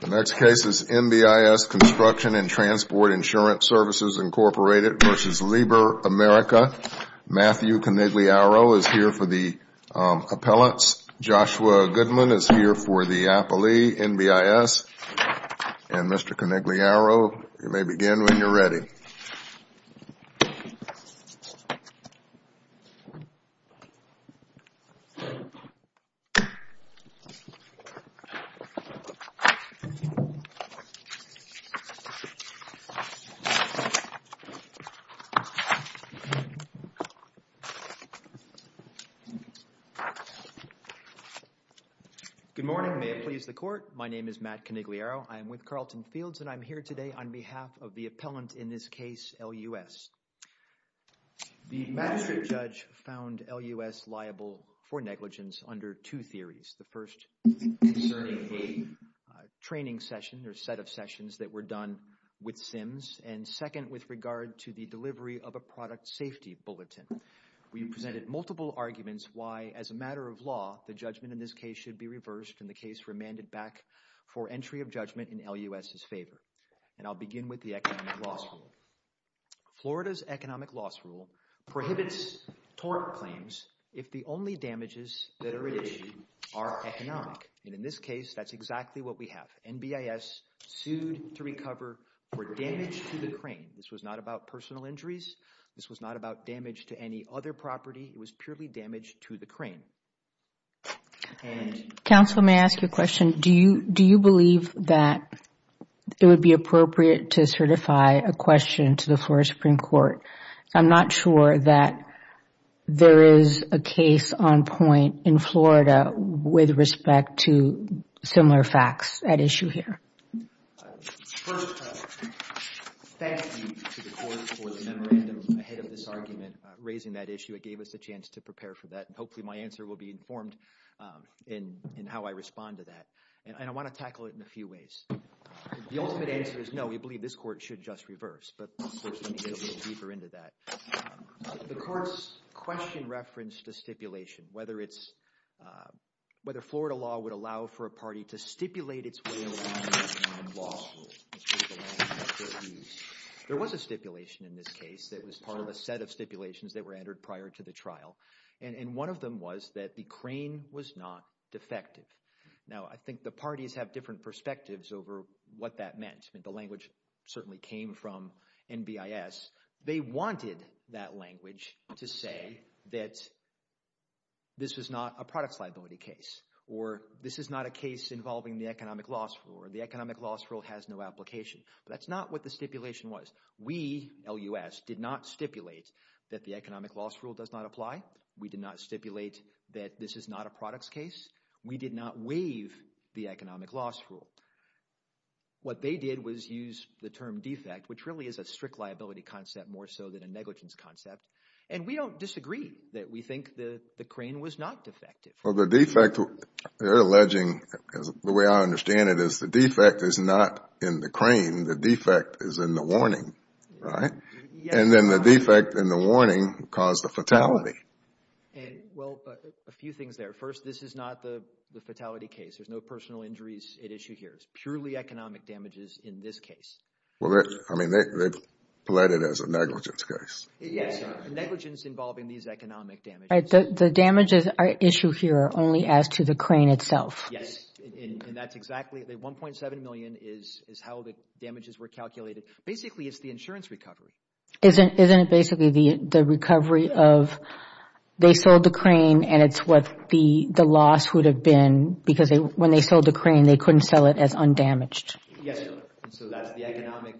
The next case is NBIS Construction & Transport Insurance Services, Inc. v. Liebherr-America. Matthew Conigliaro is here for the appellants. Joshua Goodman is here for the appellee, NBIS. And, Mr. Conigliaro, you may begin when you're ready. Good morning, may it please the court. My name is Matt Conigliaro. I am with Carleton Fields, and I'm here today on behalf of the appellant in this case, LUS. The magistrate judge found LUS liable for negligence under two theories. The first concerning a training session or set of sessions that were done with SIMS, and second with regard to the delivery of a product safety bulletin. We presented multiple arguments why, as a matter of law, the judgment in this case should be reversed and the case remanded back for entry of judgment in LUS's favor. And I'll begin with the economic loss rule. Florida's economic loss rule prohibits tort claims if the only damages that are at issue are economic. And in this case, that's exactly what we have. NBIS sued to recover for damage to the crane. This was not about personal injuries. This was not about damage to any other property. It was purely damage to the crane. Counsel, may I ask you a question? Do you believe that it would be appropriate to certify a question to the Florida Supreme Court? I'm not sure that there is a case on point in Florida with respect to similar facts at issue here. First, thank you to the court for the memorandum ahead of this argument raising that issue. It gave us a chance to prepare for that. And hopefully my answer will be informed in how I respond to that. And I want to tackle it in a few ways. The ultimate answer is no, we believe this court should just reverse. But of course, let me go a little deeper into that. The court's question referenced a stipulation, whether Florida law would allow for a party to stipulate its way around an economic loss rule. There was a stipulation in this case that was part of a set of stipulations that were entered prior to the trial. And one of them was that the crane was not defective. Now I think the parties have different perspectives over what that meant. The language certainly came from NBIS. They wanted that language to say that this was not a products liability case, or this is not a case involving the economic loss rule, or the economic loss rule has no application. That's not what the stipulation was. We, LUS, did not stipulate that the economic loss rule does not apply. We did not stipulate that this is not a products case. We did not waive the economic loss rule. What they did was use the term defect, which really is a strict liability concept more so than a negligence concept. And we don't disagree that we think the crane was not defective. Well, the defect, they're alleging, the way I understand it, is the defect is not in the crane. They're alleging the defect is in the warning, right? And then the defect in the warning caused the fatality. Well, a few things there. First, this is not the fatality case. There's no personal injuries at issue here. It's purely economic damages in this case. Well, I mean, they've pledged it as a negligence case. Yes, negligence involving these economic damages. The damages at issue here are only as to the crane itself. Yes. And that's exactly, the $1.7 million is how the damages were calculated. Basically, it's the insurance recovery. Isn't it basically the recovery of, they sold the crane and it's what the loss would have been because when they sold the crane, they couldn't sell it as undamaged? Yes, and so that's the economic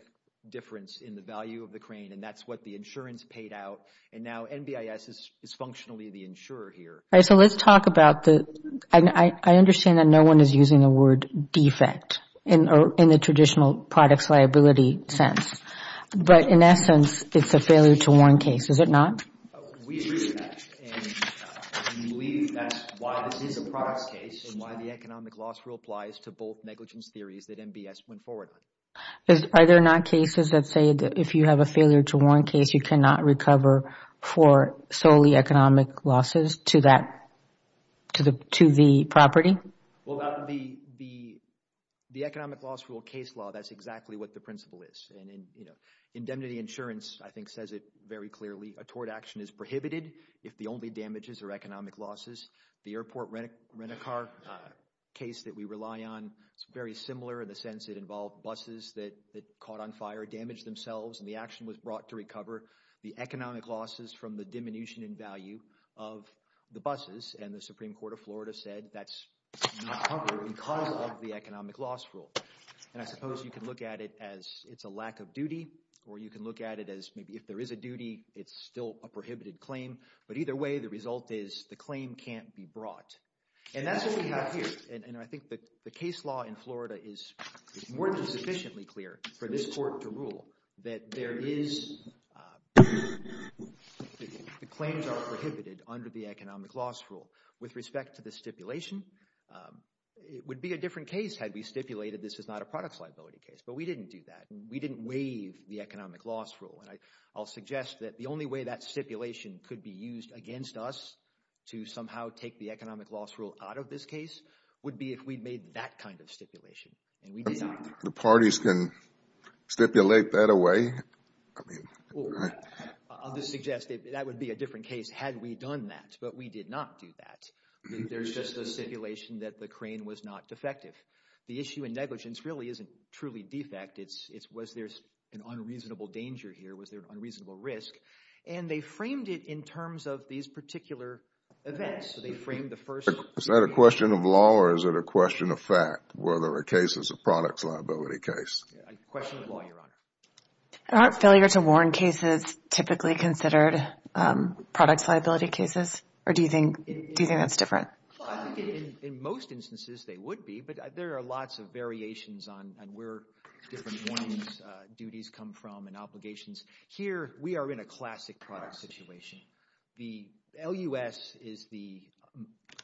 difference in the value of the crane and that's what the insurance paid out. And now NBIS is functionally the insurer here. All right, so let's talk about the, I understand that no one is using the word defect in the traditional products liability sense, but in essence, it's a failure to warn case. Is it not? We agree with that and we believe that's why this is a products case and why the economic loss rule applies to both negligence theories that NBIS went forward with. Are there not cases that say that if you have a failure to warn case, you cannot recover for solely economic losses to that, to the property? Well, the economic loss rule case law, that's exactly what the principle is and indemnity insurance I think says it very clearly, a tort action is prohibited if the only damages are economic losses. The airport rent-a-car case that we rely on, it's very similar in the sense it involved buses that caught on fire, damaged themselves and the action was brought to recover. The economic losses from the diminution in value of the buses and the Supreme Court of Florida said that's not covered because of the economic loss rule and I suppose you can look at it as it's a lack of duty or you can look at it as maybe if there is a duty, it's still a prohibited claim, but either way, the result is the claim can't be brought and that's what we have here and I think that the case law in Florida is more than sufficiently clear for this court to rule that there is, the claims are prohibited under the economic loss rule. With respect to the stipulation, it would be a different case had we stipulated this is not a products liability case, but we didn't do that. We didn't waive the economic loss rule and I'll suggest that the only way that stipulation could be used against us to somehow take the economic loss rule out of this case would be if we made that kind of stipulation and we did not. The parties can stipulate that away. I'll just suggest that that would be a different case had we done that, but we did not do that. There's just a stipulation that the crane was not defective. The issue in negligence really isn't truly defect, it's was there an unreasonable danger here, was there an unreasonable risk and they framed it in terms of these particular events. So they framed the first... Is that a question of law or is it a question of fact whether a case is a products liability case? A question of law, Your Honor. Aren't failure to warn cases typically considered products liability cases or do you think that's different? In most instances, they would be, but there are lots of variations on where different warnings duties come from and obligations. Here we are in a classic product situation. The LUS is the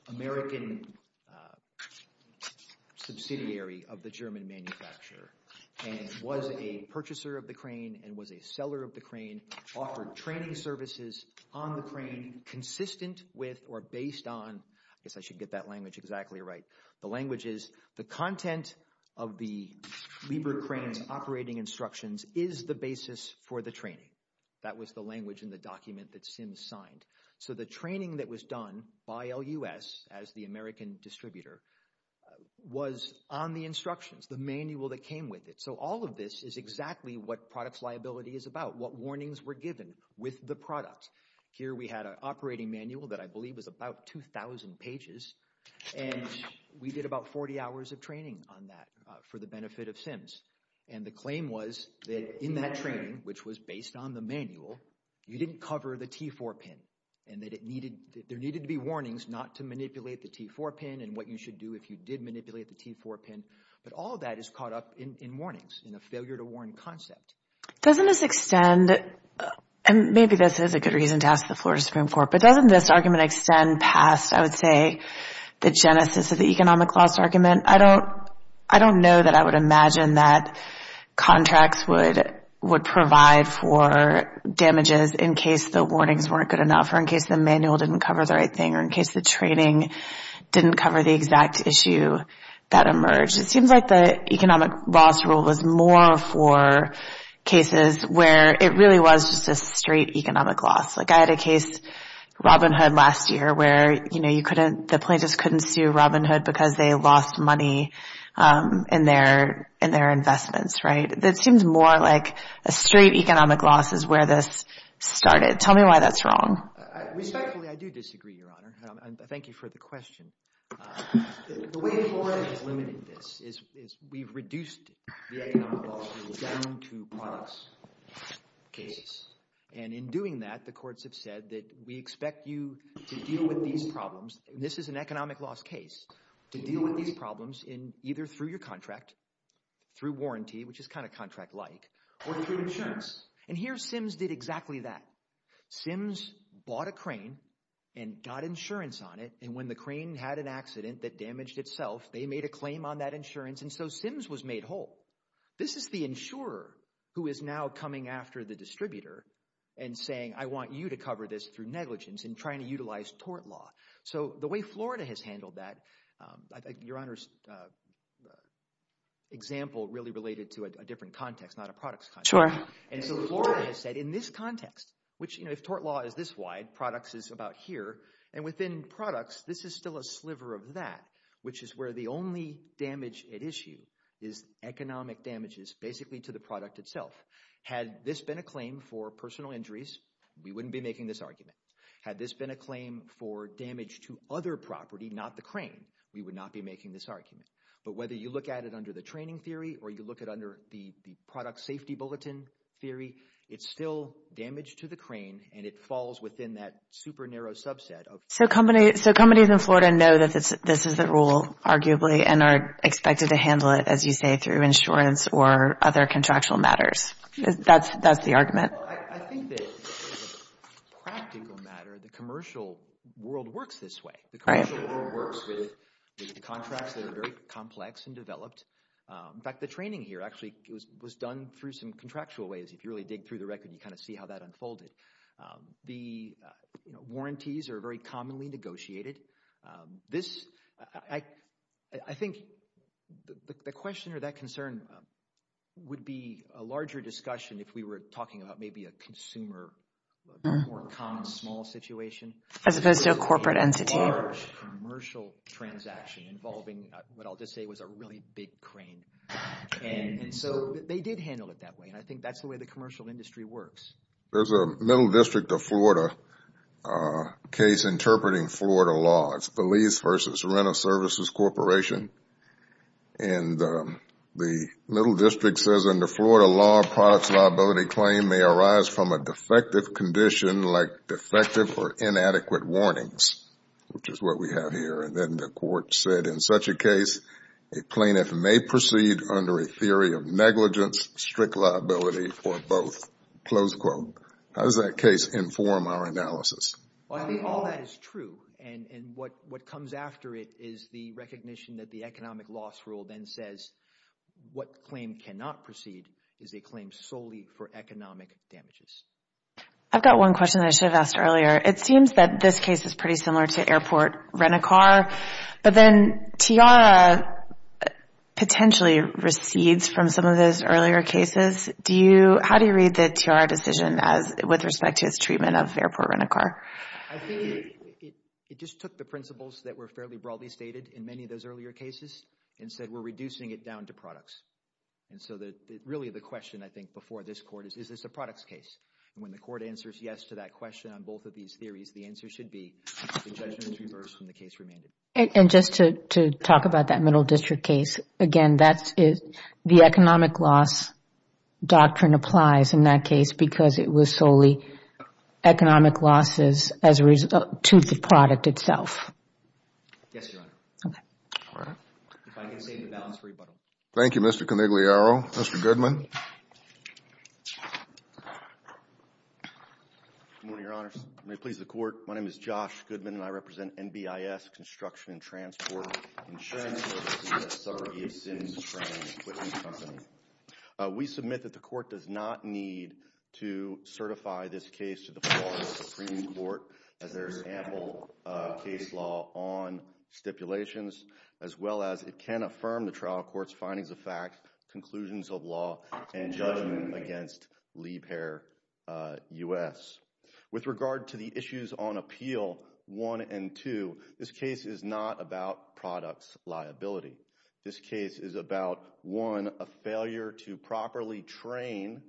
American subsidiary of the German manufacturer and was a purchaser of the crane and was a seller of the crane, offered training services on the crane consistent with or based on, I guess I should get that language exactly right. The language is the content of the Liebert crane's operating instructions is the basis for the training. That was the language in the document that SIMS signed. So the training that was done by LUS as the American distributor was on the instructions, the manual that came with it. So all of this is exactly what products liability is about, what warnings were given with the products. Here we had an operating manual that I believe was about 2000 pages and we did about 40 hours of training on that for the benefit of SIMS. And the claim was that in that training, which was based on the manual, you didn't cover the T4 pin and that there needed to be warnings not to manipulate the T4 pin and what you should do if you did manipulate the T4 pin. But all of that is caught up in warnings, in a failure to warn concept. Doesn't this extend, and maybe this is a good reason to ask the floor to Supreme Court, but doesn't this argument extend past, I would say, the genesis of the economic loss argument? I don't know that I would imagine that contracts would provide for damages in case the warnings weren't good enough or in case the manual didn't cover the right thing or in case the training didn't cover the exact issue that emerged. It seems like the economic loss rule was more for cases where it really was just a straight economic loss. Like I had a case, Robin Hood last year, where the plaintiffs couldn't sue Robin Hood because they lost money in their investments, right? That seems more like a straight economic loss is where this started. Tell me why that's wrong. Respectfully, I do disagree, Your Honor. And thank you for the question. The way the Court has limited this is we've reduced the economic loss rule down to products cases. And in doing that, the courts have said that we expect you to deal with these problems. And this is an economic loss case, to deal with these problems either through your contract, through warranty, which is kind of contract-like, or through insurance. And here, Sims did exactly that. Sims bought a crane and got insurance on it, and when the crane had an accident that damaged itself, they made a claim on that insurance, and so Sims was made whole. This is the insurer who is now coming after the distributor and saying, I want you to cover this through negligence and trying to utilize tort law. So the way Florida has handled that, Your Honor's example really related to a different context, not a products context. Sure. And so Florida has said, in this context, which if tort law is this wide, products is about here, and within products, this is still a sliver of that, which is where the only damage at issue is economic damages, basically to the product itself. Had this been a claim for personal injuries, we wouldn't be making this argument. Had this been a claim for damage to other property, not the crane, we would not be making this argument. But whether you look at it under the training theory, or you look at it under the product safety bulletin theory, it's still damage to the crane, and it falls within that super narrow subset. So companies in Florida know that this is the rule, arguably, and are expected to handle it, as you say, through insurance or other contractual matters. That's the argument. I think that, as a practical matter, the commercial world works this way. The commercial world works with contracts that are very complex and developed. In fact, the training here actually was done through some contractual ways. If you really dig through the record, you kind of see how that unfolded. The warranties are very commonly negotiated. This, I think, the question or that concern would be a larger discussion if we were talking about maybe a consumer, more common, small situation. As opposed to a corporate entity. A large commercial transaction involving what I'll just say was a really big crane. So they did handle it that way, and I think that's the way the commercial industry works. There's a Middle District of Florida case interpreting Florida law. It's Belize versus Rent-a-Services Corporation, and the Middle District says in the Florida law, a products liability claim may arise from a defective condition like defective or inadequate warnings, which is what we have here, and then the court said in such a case, a plaintiff may proceed under a theory of negligence, strict liability for both, close quote. How does that case inform our analysis? All that is true, and what comes after it is the recognition that the economic loss rule then says what claim cannot proceed is a claim solely for economic damages. I've got one question that I should have asked earlier. It seems that this case is pretty similar to Airport Rent-a-Car, but then TIARA potentially recedes from some of those earlier cases. How do you read the TIARA decision with respect to its treatment of Airport Rent-a-Car? I think it just took the principles that were fairly broadly stated in many of those earlier cases and said we're reducing it down to products. Really, the question I think before this court is, is this a products case? When the court answers yes to that question on both of these theories, the answer should be the judgment is reversed and the case remained. Just to talk about that Middle District case, again, the economic loss doctrine applies in that case because it was solely economic losses to the product itself. Yes, Your Honor. Okay. If I can save the balance for rebuttal. Thank you, Mr. Conigliaro. Mr. Goodman. Good morning, Your Honor. May it please the court. My name is Josh Goodman, and I represent NBIS Construction and Transport Insurance Services, a subsidiary of Sims Train Equipment Company. We submit that the court does not need to certify this case to the Florida Supreme Court as there is ample case law on stipulations as well as it can affirm the trial court's findings of fact, conclusions of law, and judgment against Liebherr U.S. With regard to the issues on appeal 1 and 2, this case is not about products liability. This case is about, one, a failure to properly train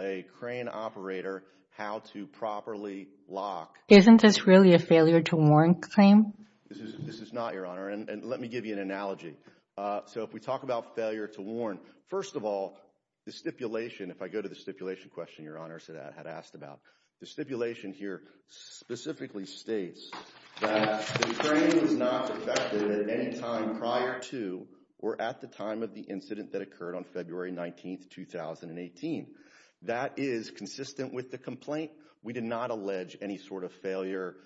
a crane operator how to properly lock. Isn't this really a failure to warn claim? This is not, Your Honor, and let me give you an analogy. So if we talk about failure to warn, first of all, the stipulation, if I go to the stipulation question Your Honor had asked about, the stipulation here specifically states that the crane is not defective at any time prior to or at the time of the incident that occurred on February 19, 2018. That is consistent with the complaint. We did not allege any sort of failure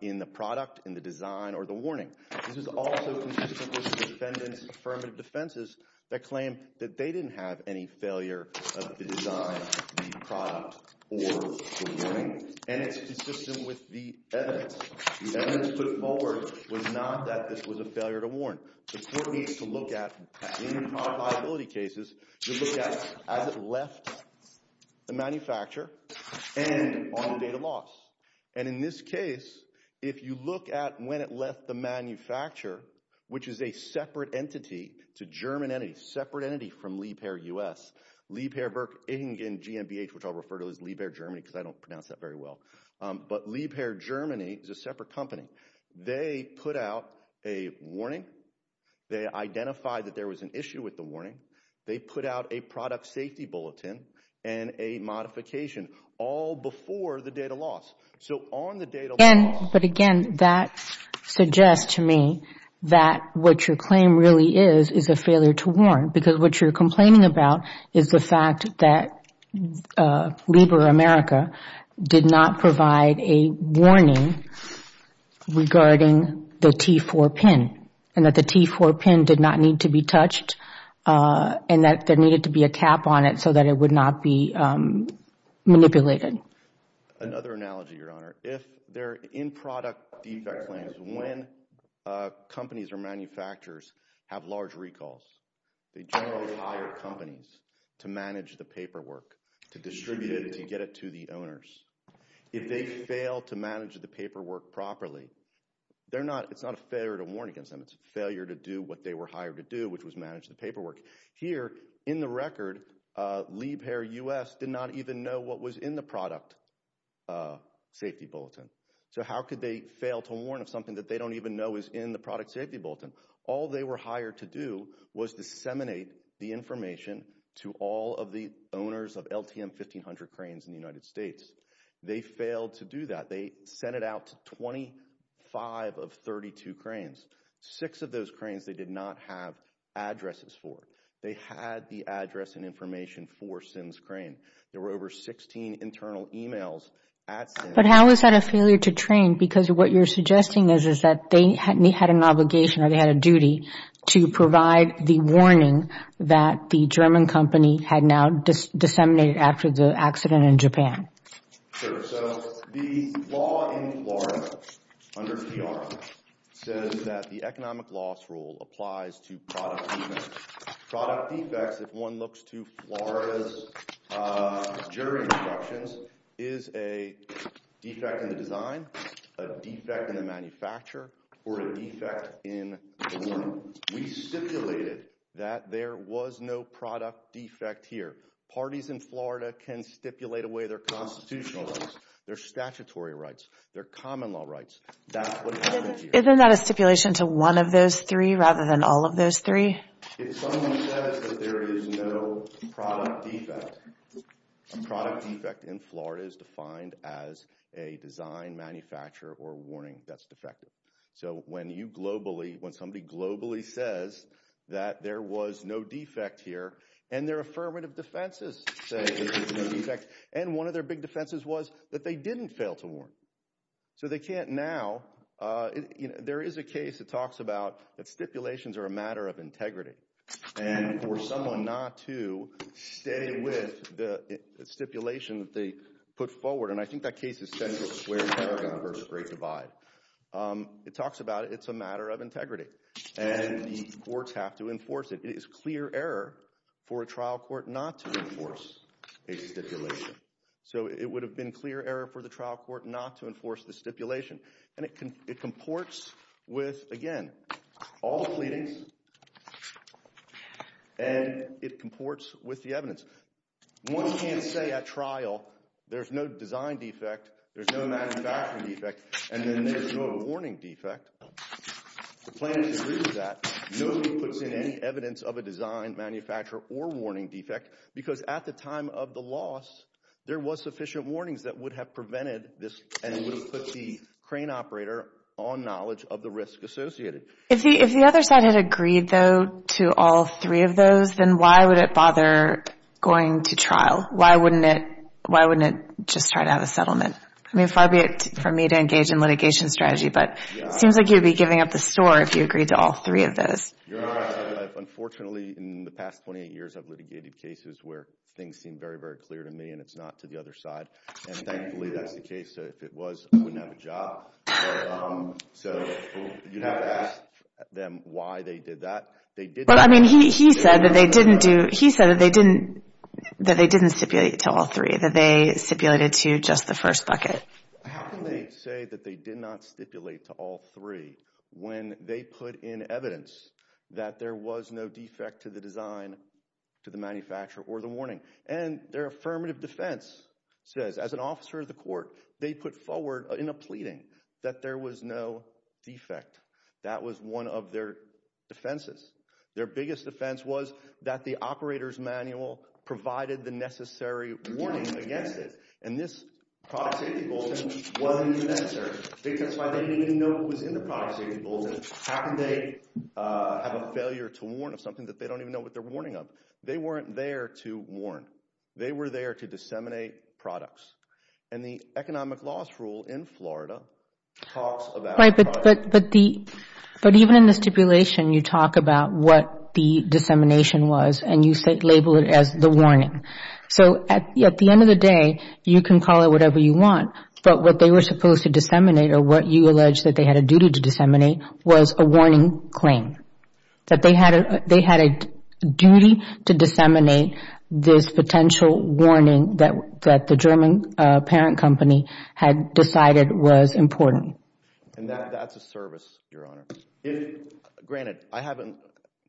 in the product, in the design, or the warning. This is also consistent with the defendant's affirmative defenses that claim that they didn't have any failure of the design, the product, or the warning. And it's consistent with the evidence. The evidence put forward was not that this was a failure to warn. The court needs to look at, in product liability cases, to look at as it left the manufacturer and on the date of loss. And in this case, if you look at when it left the manufacturer, which is a separate entity to German entities, separate entity from Liebherr U.S. Liebherr GmbH, which I'll refer to as Liebherr Germany because I don't pronounce that very well. But Liebherr Germany is a separate company. They put out a warning. They identified that there was an issue with the warning. They put out a product safety bulletin and a modification all before the date of loss. So on the date of loss... But again, that suggests to me that what your claim really is, is a failure to warn. Because what you're complaining about is the fact that Liebherr America did not provide a warning regarding the T4 pin. And that the T4 pin did not need to be touched. And that there needed to be a cap on it so that it would not be manipulated. Another analogy, Your Honor. If they're in-product defect claims, when companies or manufacturers have large recalls, they generally hire companies to manage the paperwork. To distribute it and to get it to the owners. If they fail to manage the paperwork properly, it's not a failure to warn against them. It's a failure to do what they were hired to do, which was manage the paperwork. Here, in the record, Liebherr U.S. did not even know what was in the product safety bulletin. So how could they fail to warn of something that they don't even know is in the product safety bulletin? All they were hired to do was disseminate the information to all of the owners of LTM 1500 cranes in the United States. They failed to do that. They sent it out to 25 of 32 cranes. Six of those cranes they did not have addresses for. They had the address and information for SIN's crane. There were over 16 internal emails at SIN. But how is that a failure to train? Because what you're suggesting is that they had an obligation or they had a duty to provide the warning that the German company had now disseminated after the accident in Japan. So the law in Florida under PR says that the economic loss rule applies to product defects. Product defects, if one looks to Florida's jury instructions, is a defect in the design, a defect in the manufacturer, or a defect in the warning. We stipulated that there was no product defect here. Parties in Florida can stipulate away their constitutional rights, their statutory rights, their common law rights. That's what happened here. Isn't that a stipulation to one of those three rather than all of those three? If someone says that there is no product defect, a product defect in Florida is defined as a design, manufacturer, or warning that's defective. So when you globally, when somebody globally says that there was no defect here, and their affirmative defenses say there was no defect, and one of their big defenses was that they didn't fail to warn. So they can't now. There is a case that talks about that stipulations are a matter of integrity. And for someone not to stay with the stipulation that they put forward, and I think that case is Central Square Paragon versus Great Divide, it talks about it's a matter of integrity. And the courts have to enforce it. It is clear error for a trial court not to enforce a stipulation. So it would have been clear error for the trial court not to enforce the stipulation. And it comports with, again, all pleadings, and it comports with the evidence. One can't say at trial there's no design defect, there's no manufacturing defect, and then there's no warning defect. The plan is to prove that nobody puts in any evidence of a design, manufacture, or warning defect, because at the time of the loss, there was sufficient warnings that would have prevented this, and would have put the crane operator on knowledge of the risk associated. If the other side had agreed, though, to all three of those, then why would it bother going to trial? Why wouldn't it just try to have a settlement? I mean, far be it from me to engage in litigation strategy, but it seems like you'd be giving up the store if you agreed to all three of those. You're right. Unfortunately, in the past 28 years, I've litigated cases where things seem very, very clear to me, and it's not to the other side. And thankfully, that's the case, so if it was, I wouldn't have a job. So you'd have to ask them why they did that. Well, I mean, he said that they didn't stipulate to all three, that they stipulated to just the first bucket. How can they say that they did not stipulate to all three when they put in evidence that there was no defect to the design, to the manufacture, or the warning? And their affirmative defense says, as an officer of the court, they put forward in a pleading that there was no defect. That was one of their defenses. Their biggest defense was that the operator's manual provided the necessary warning against it. And this product safety bulletin wasn't even answered. I think that's why they didn't even know what was in the product safety bulletin. How can they have a failure to warn of something that they don't even know what they're warning of? They weren't there to warn. They were there to disseminate products. And the economic loss rule in Florida talks about products. But even in the stipulation, you talk about what the dissemination was, and you label it as the warning. So at the end of the day, you can call it whatever you want, but what they were supposed to disseminate, or what you allege that they had a duty to disseminate, was a warning claim. That they had a duty to disseminate this potential warning that the German parent company had decided was important. And that's a service, Your Honor. Granted, I haven't,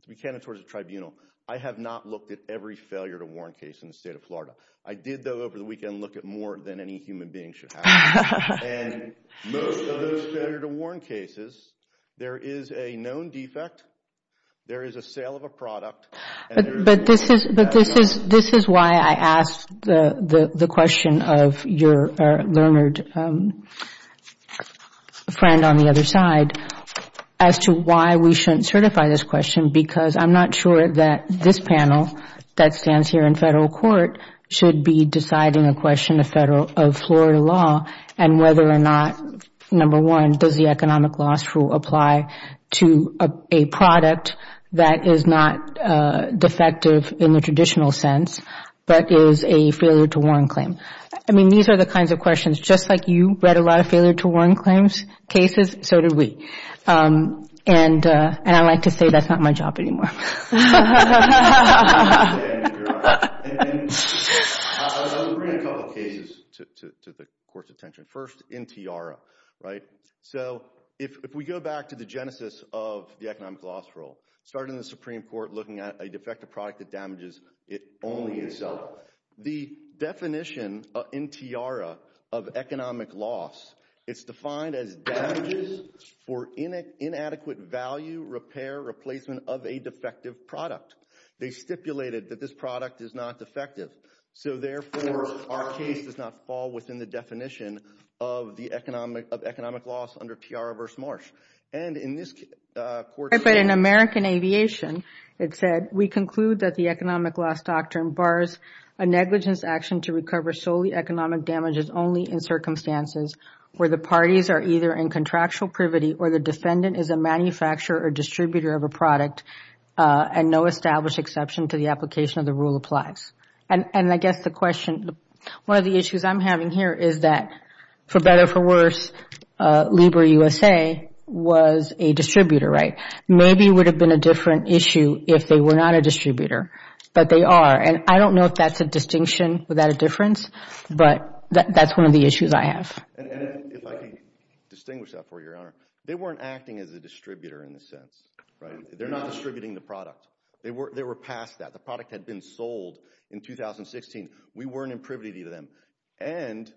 to be candid towards the tribunal, I have not looked at every failure to warn case in the state of Florida. I did, though, over the weekend, look at more than any human being should have. And most of those failure to warn cases, there is a known defect. There is a sale of a product. But this is why I asked the question of your learned friend on the other side, as to why we shouldn't certify this question, because I'm not sure that this panel that stands here in federal court should be deciding a question of Florida law, and whether or not, number one, does the economic loss rule apply to a product that is not defective in the traditional sense, but is a failure to warn claim. I mean, these are the kinds of questions, just like you read a lot of failure to warn claims cases, so did we. And I'd like to say that's not my job anymore. I'll bring a couple cases to the court's attention. First, Intiara, right? So, if we go back to the genesis of the economic loss rule, started in the Supreme Court looking at a defective product that damages only itself. The definition, Intiara, of economic loss, it's defined as damages for inadequate value, repair, replacement of a defective product. They stipulated that this product is not defective, so therefore, our case does not fall within the definition of economic loss under Intiara v. Marsh. And in this court's... But in American Aviation, it said, we conclude that the economic loss doctrine bars a negligence action to recover solely economic damages only in circumstances where the parties are either in contractual privity or the defendant is a manufacturer or distributor of a product and no established exception to the application of the rule applies. And I guess the question... One of the issues I'm having here is that, for better or for worse, Lieber USA was a distributor, right? Maybe it would have been a different issue if they were not a distributor, but they are. And I don't know if that's a distinction, is that a difference? But that's one of the issues I have. And if I can distinguish that for you, Your Honor, they weren't acting as a distributor in a sense, right? They're not distributing the product. They were past that. The product had been sold in 2016. We weren't in privity to them. And...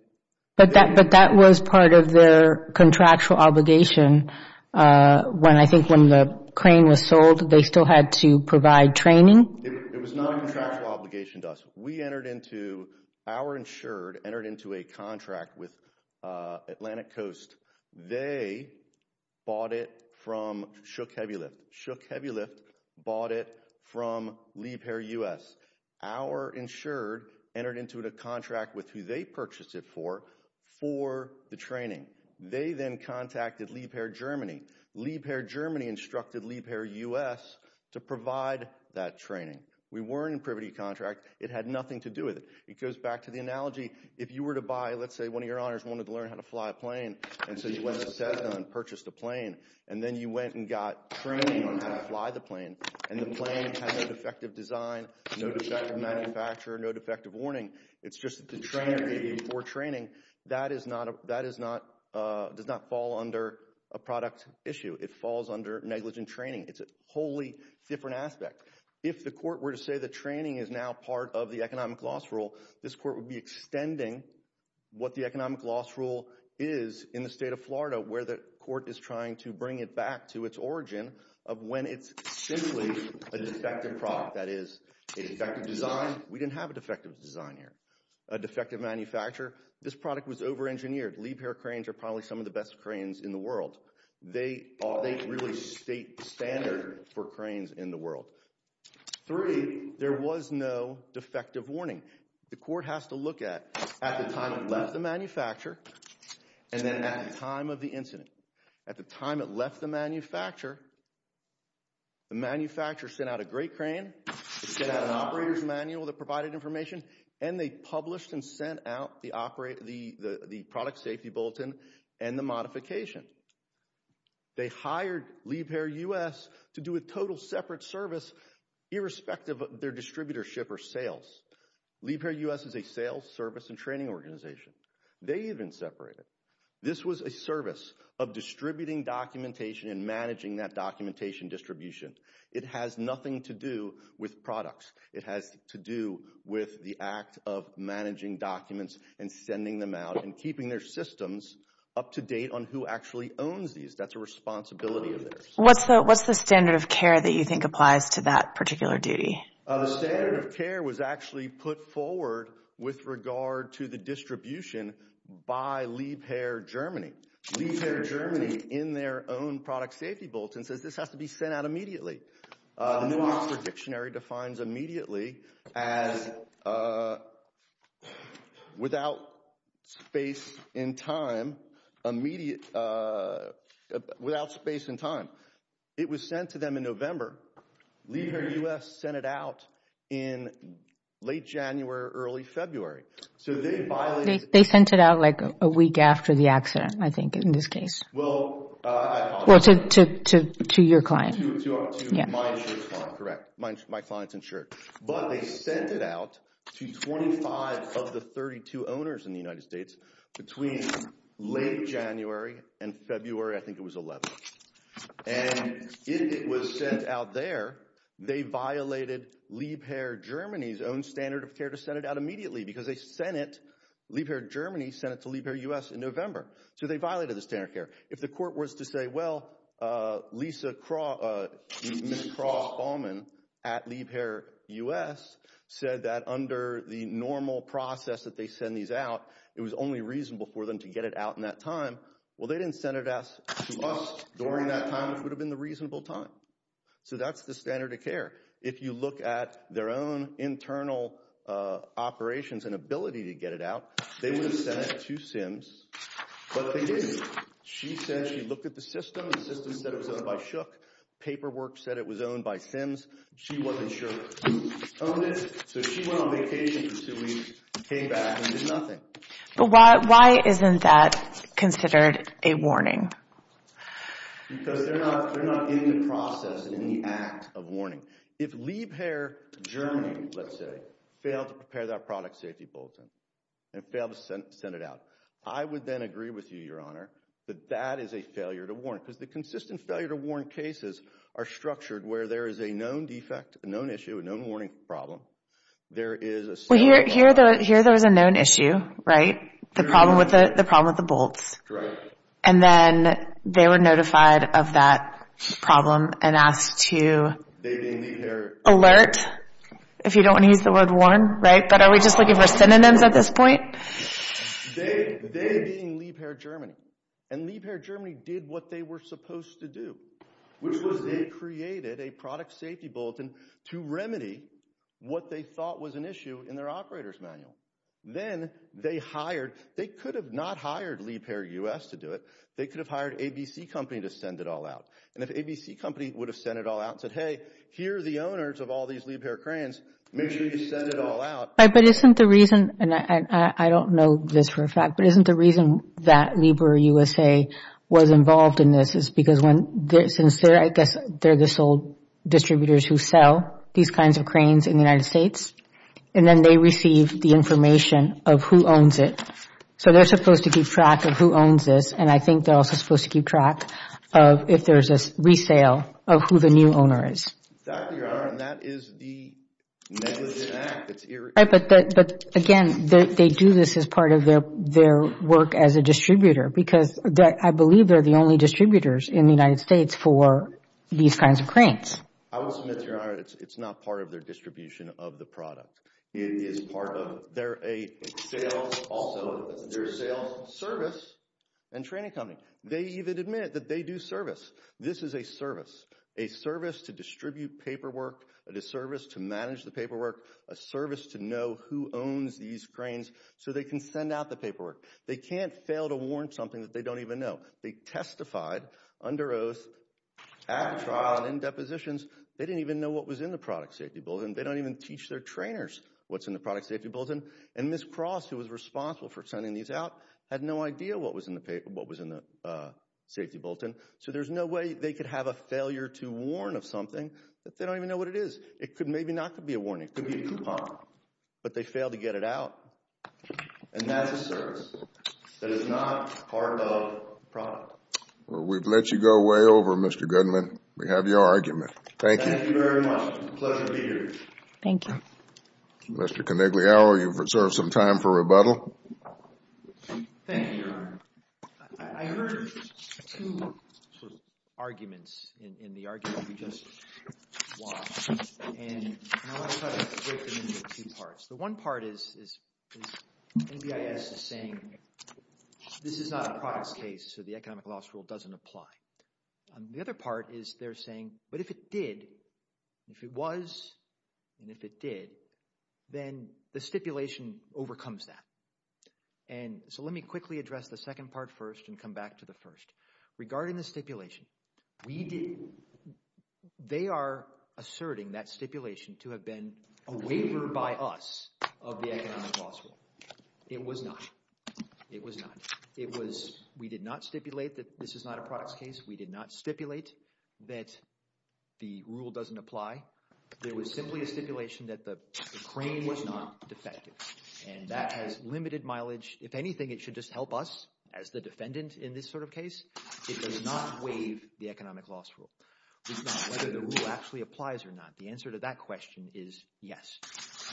But that was part of their contractual obligation when I think when the crane was sold, they still had to provide training? It was not a contractual obligation to us. We entered into... Our insured entered into a contract with Atlantic Coast. They bought it from Shook Heavy Lift. Shook Heavy Lift bought it from Liebherr US. Our insured entered into a contract with who they purchased it for for the training. They then contacted Liebherr Germany. Liebherr Germany instructed Liebherr US to provide that training. We were in a privity contract. It had nothing to do with it. It goes back to the analogy. If you were to buy... Let's say one of your honors wanted to learn how to fly a plane. And so you went to Cessna and purchased a plane. And then you went and got training on how to fly the plane. And the plane had no defective design, no defective manufacturer, no defective warning. It's just that the trainer gave you before training. That does not fall under a product issue. It falls under negligent training. It's a wholly different aspect. If the court were to say the training is now part of the economic loss rule, this court would be extending what the economic loss rule is in the state of Florida where the court is trying to bring it back to its origin of when it's simply a defective product. That is, a defective design. We didn't have a defective design here. A defective manufacturer. This product was over-engineered. Liebherr cranes are probably some of the best cranes in the world. They really state the standard for cranes in the world. Three, there was no defective warning. The court has to look at the time it left the manufacturer and then at the time of the incident. At the time it left the manufacturer, the manufacturer sent out a great crane. It sent out an operator's manual that provided information. And they published and sent out the product safety bulletin and the modification. They hired Liebherr U.S. to do a total separate service irrespective of their distributorship or sales. Liebherr U.S. is a sales service and training organization. They even separated. This was a service of distributing documentation and managing that documentation distribution. It has nothing to do with products. It has to do with the act of managing documents and sending them out and keeping their systems up to date on who actually owns these. That's a responsibility of theirs. What's the standard of care that you think applies to that particular duty? The standard of care was actually put forward with regard to the distribution by Liebherr Germany. Liebherr Germany, in their own product safety bulletin, says this has to be sent out immediately. Their dictionary defines immediately as without space in time. Without space in time. It was sent to them in November. Liebherr U.S. sent it out in late January, early February. They sent it out like a week after the accident, I think, in this case. To your client. To my insurance client, correct. My client's insured. But they sent it out to 25 of the 32 owners in the United States between late January and February. I think it was 11. And it was sent out there. They violated Liebherr Germany's own standard of care to send it out immediately because they sent it. Liebherr Germany sent it to Liebherr U.S. in November. So they violated the standard of care. If the court was to say, well, Ms. Cross-Bauman at Liebherr U.S. said that under the normal process that they send these out, it was only reasonable for them to get it out in that time. Well, they didn't send it out to us during that time, which would have been the reasonable time. So that's the standard of care. If you look at their own internal operations and ability to get it out, they would have sent it to Sims, but they didn't. She said she looked at the system. The system said it was owned by Shook. Paperwork said it was owned by Sims. She wasn't sure who owned it, so she went on vacation for two weeks and came back and did nothing. But why isn't that considered a warning? Because they're not in the process and in the act of warning. If Liebherr Germany, let's say, failed to prepare that product safety bulletin and failed to send it out, I would then agree with you, Your Honor, that that is a failure to warn. Because the consistent failure to warn cases are structured where there is a known defect, a known issue, a known warning problem. Well, here there was a known issue, right? The problem with the bolts. Correct. And then they were notified of that problem and asked to alert, if you don't want to use the word warn, right? But are we just looking for synonyms at this point? They being Liebherr Germany. And Liebherr Germany did what they were supposed to do, which was they created a product safety bulletin to remedy what they thought was an issue in their operator's manual. Then they hired. They could have not hired Liebherr U.S. to do it. They could have hired ABC Company to send it all out. And if ABC Company would have sent it all out and said, hey, here are the owners of all these Liebherr cranes. Make sure you send it all out. But isn't the reason, and I don't know this for a fact, but isn't the reason that Liebherr U.S.A. was involved in this is because since I guess they're the sole distributors who sell these kinds of cranes in the United States, and then they receive the information of who owns it. So they're supposed to keep track of who owns this, and I think they're also supposed to keep track of if there's a resale of who the new owner is. That, Your Honor, and that is the negligent act. But again, they do this as part of their work as a distributor because I believe they're the only distributors in the United States for these kinds of cranes. I will submit, Your Honor, it's not part of their distribution of the product. It is part of their sales service and training company. They even admit that they do service. This is a service, a service to distribute paperwork, a service to manage the paperwork, a service to know who owns these cranes so they can send out the paperwork. They can't fail to warn something that they don't even know. They testified under oath at trial and in depositions. They didn't even know what was in the product safety bulletin. They don't even teach their trainers what's in the product safety bulletin. And Ms. Cross, who was responsible for sending these out, had no idea what was in the safety bulletin. So there's no way they could have a failure to warn of something if they don't even know what it is. It could maybe not be a warning. It could be a coupon. But they failed to get it out. And that's a service that is not part of the product. We've let you go way over, Mr. Goodman. We have your argument. Thank you. Thank you very much. It's a pleasure to be here. Mr. Conigliaro, you've reserved some time for rebuttal. Thank you, Your Honor. I heard two arguments in the argument we just watched. And I want to try to break them into two parts. The one part is NBIS is saying this is not a products case, so the economic loss rule doesn't apply. The other part is they're saying, but if it did, if it was, and if it did, then the stipulation overcomes that. And so let me quickly address the second part first and come back to the first. Regarding the stipulation, they are asserting that stipulation to have been a waiver by us of the economic loss rule. It was not. It was not. We did not stipulate that this is not a products case. We did not stipulate that the rule doesn't apply. There was simply a stipulation that the crane was not defective. And that has limited mileage. If anything, it should just help us as the defendant in this sort of case. It does not waive the economic loss rule. It's not whether the rule actually applies or not. The answer to that question is yes.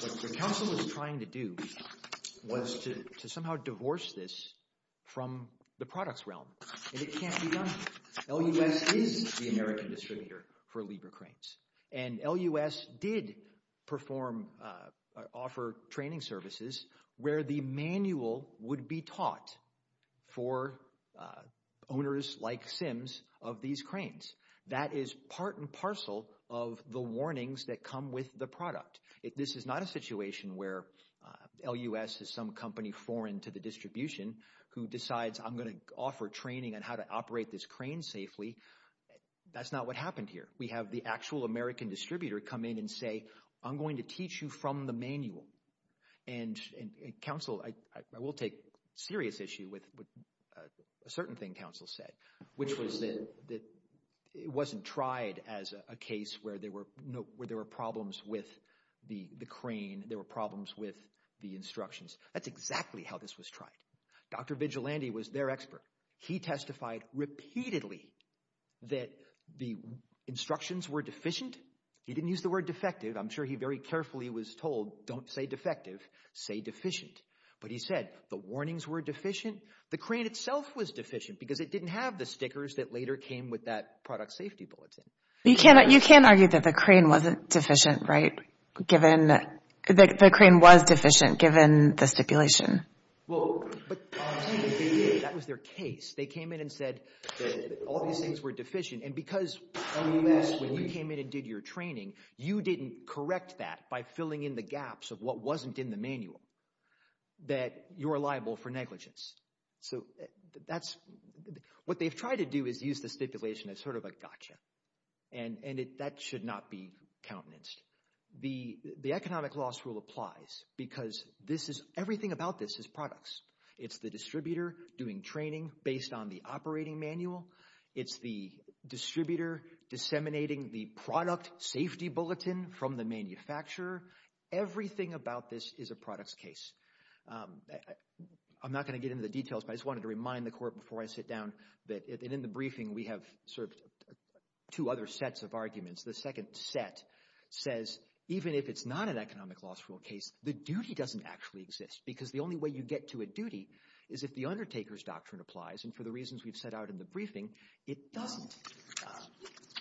What the counsel was trying to do was to somehow divorce this from the products realm. And it can't be done. LUS is the American distributor for Libra cranes. And LUS did perform or offer training services where the manual would be taught for owners like Sims of these cranes. That is part and parcel of the warnings that come with the product. This is not a situation where LUS is some company foreign to the distribution who decides I'm going to offer training on how to operate this crane safely. That's not what happened here. We have the actual American distributor come in and say, I'm going to teach you from the manual. And counsel, I will take serious issue with a certain thing counsel said, which was that it wasn't tried as a case where there were problems with the crane, there were problems with the instructions. That's exactly how this was tried. Dr. Vigilante was their expert. He testified repeatedly that the instructions were deficient. He didn't use the word defective. I'm sure he very carefully was told don't say defective, say deficient. But he said the warnings were deficient. The crane itself was deficient because it didn't have the stickers that later came with that product safety bulletin. You can't argue that the crane wasn't deficient, right, given that the crane was deficient given the stipulation. Well, but that was their case. They came in and said that all these things were deficient. And because when you came in and did your training, you didn't correct that by filling in the gaps of what wasn't in the manual, that you're liable for negligence. So that's what they've tried to do is use the stipulation as sort of a gotcha. And that should not be countenanced. The economic loss rule applies because everything about this is products. It's the distributor doing training based on the operating manual. It's the distributor disseminating the product safety bulletin from the manufacturer. Everything about this is a products case. I'm not going to get into the details, but I just wanted to remind the court before I sit down that in the briefing we have served two other sets of arguments. The second set says even if it's not an economic loss rule case, the duty doesn't actually exist because the only way you get to a duty is if the undertaker's doctrine applies. And for the reasons we've set out in the briefing, it doesn't.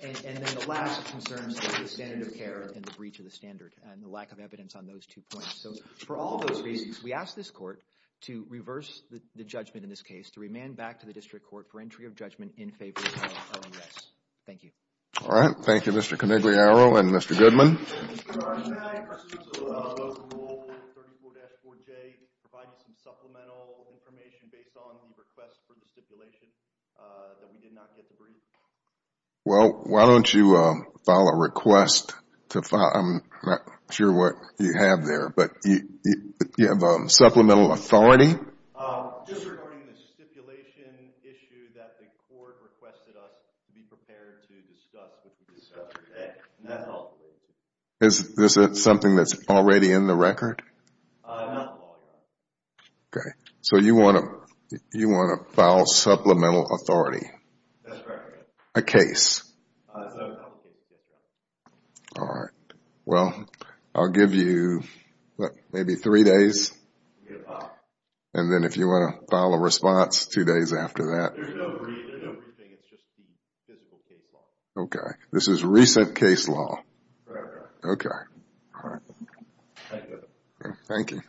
And then the last concern is the standard of care and the breach of the standard and the lack of evidence on those two points. So for all those reasons, we ask this court to reverse the judgment in this case, to remand back to the district court for entry of judgment in favor of OMS. Thank you. All right. Thank you, Mr. Conigliaro and Mr. Goodman. Well, why don't you file a request to file I'm not sure what you have there, but you have supplemental authority? Is this something that's already in the record? Okay. So you want to file supplemental authority? A case? All right. Well, I'll give you maybe three days. And then if you want to file a response two days after that. Okay. This is recent case law. Okay. All right. Thank you.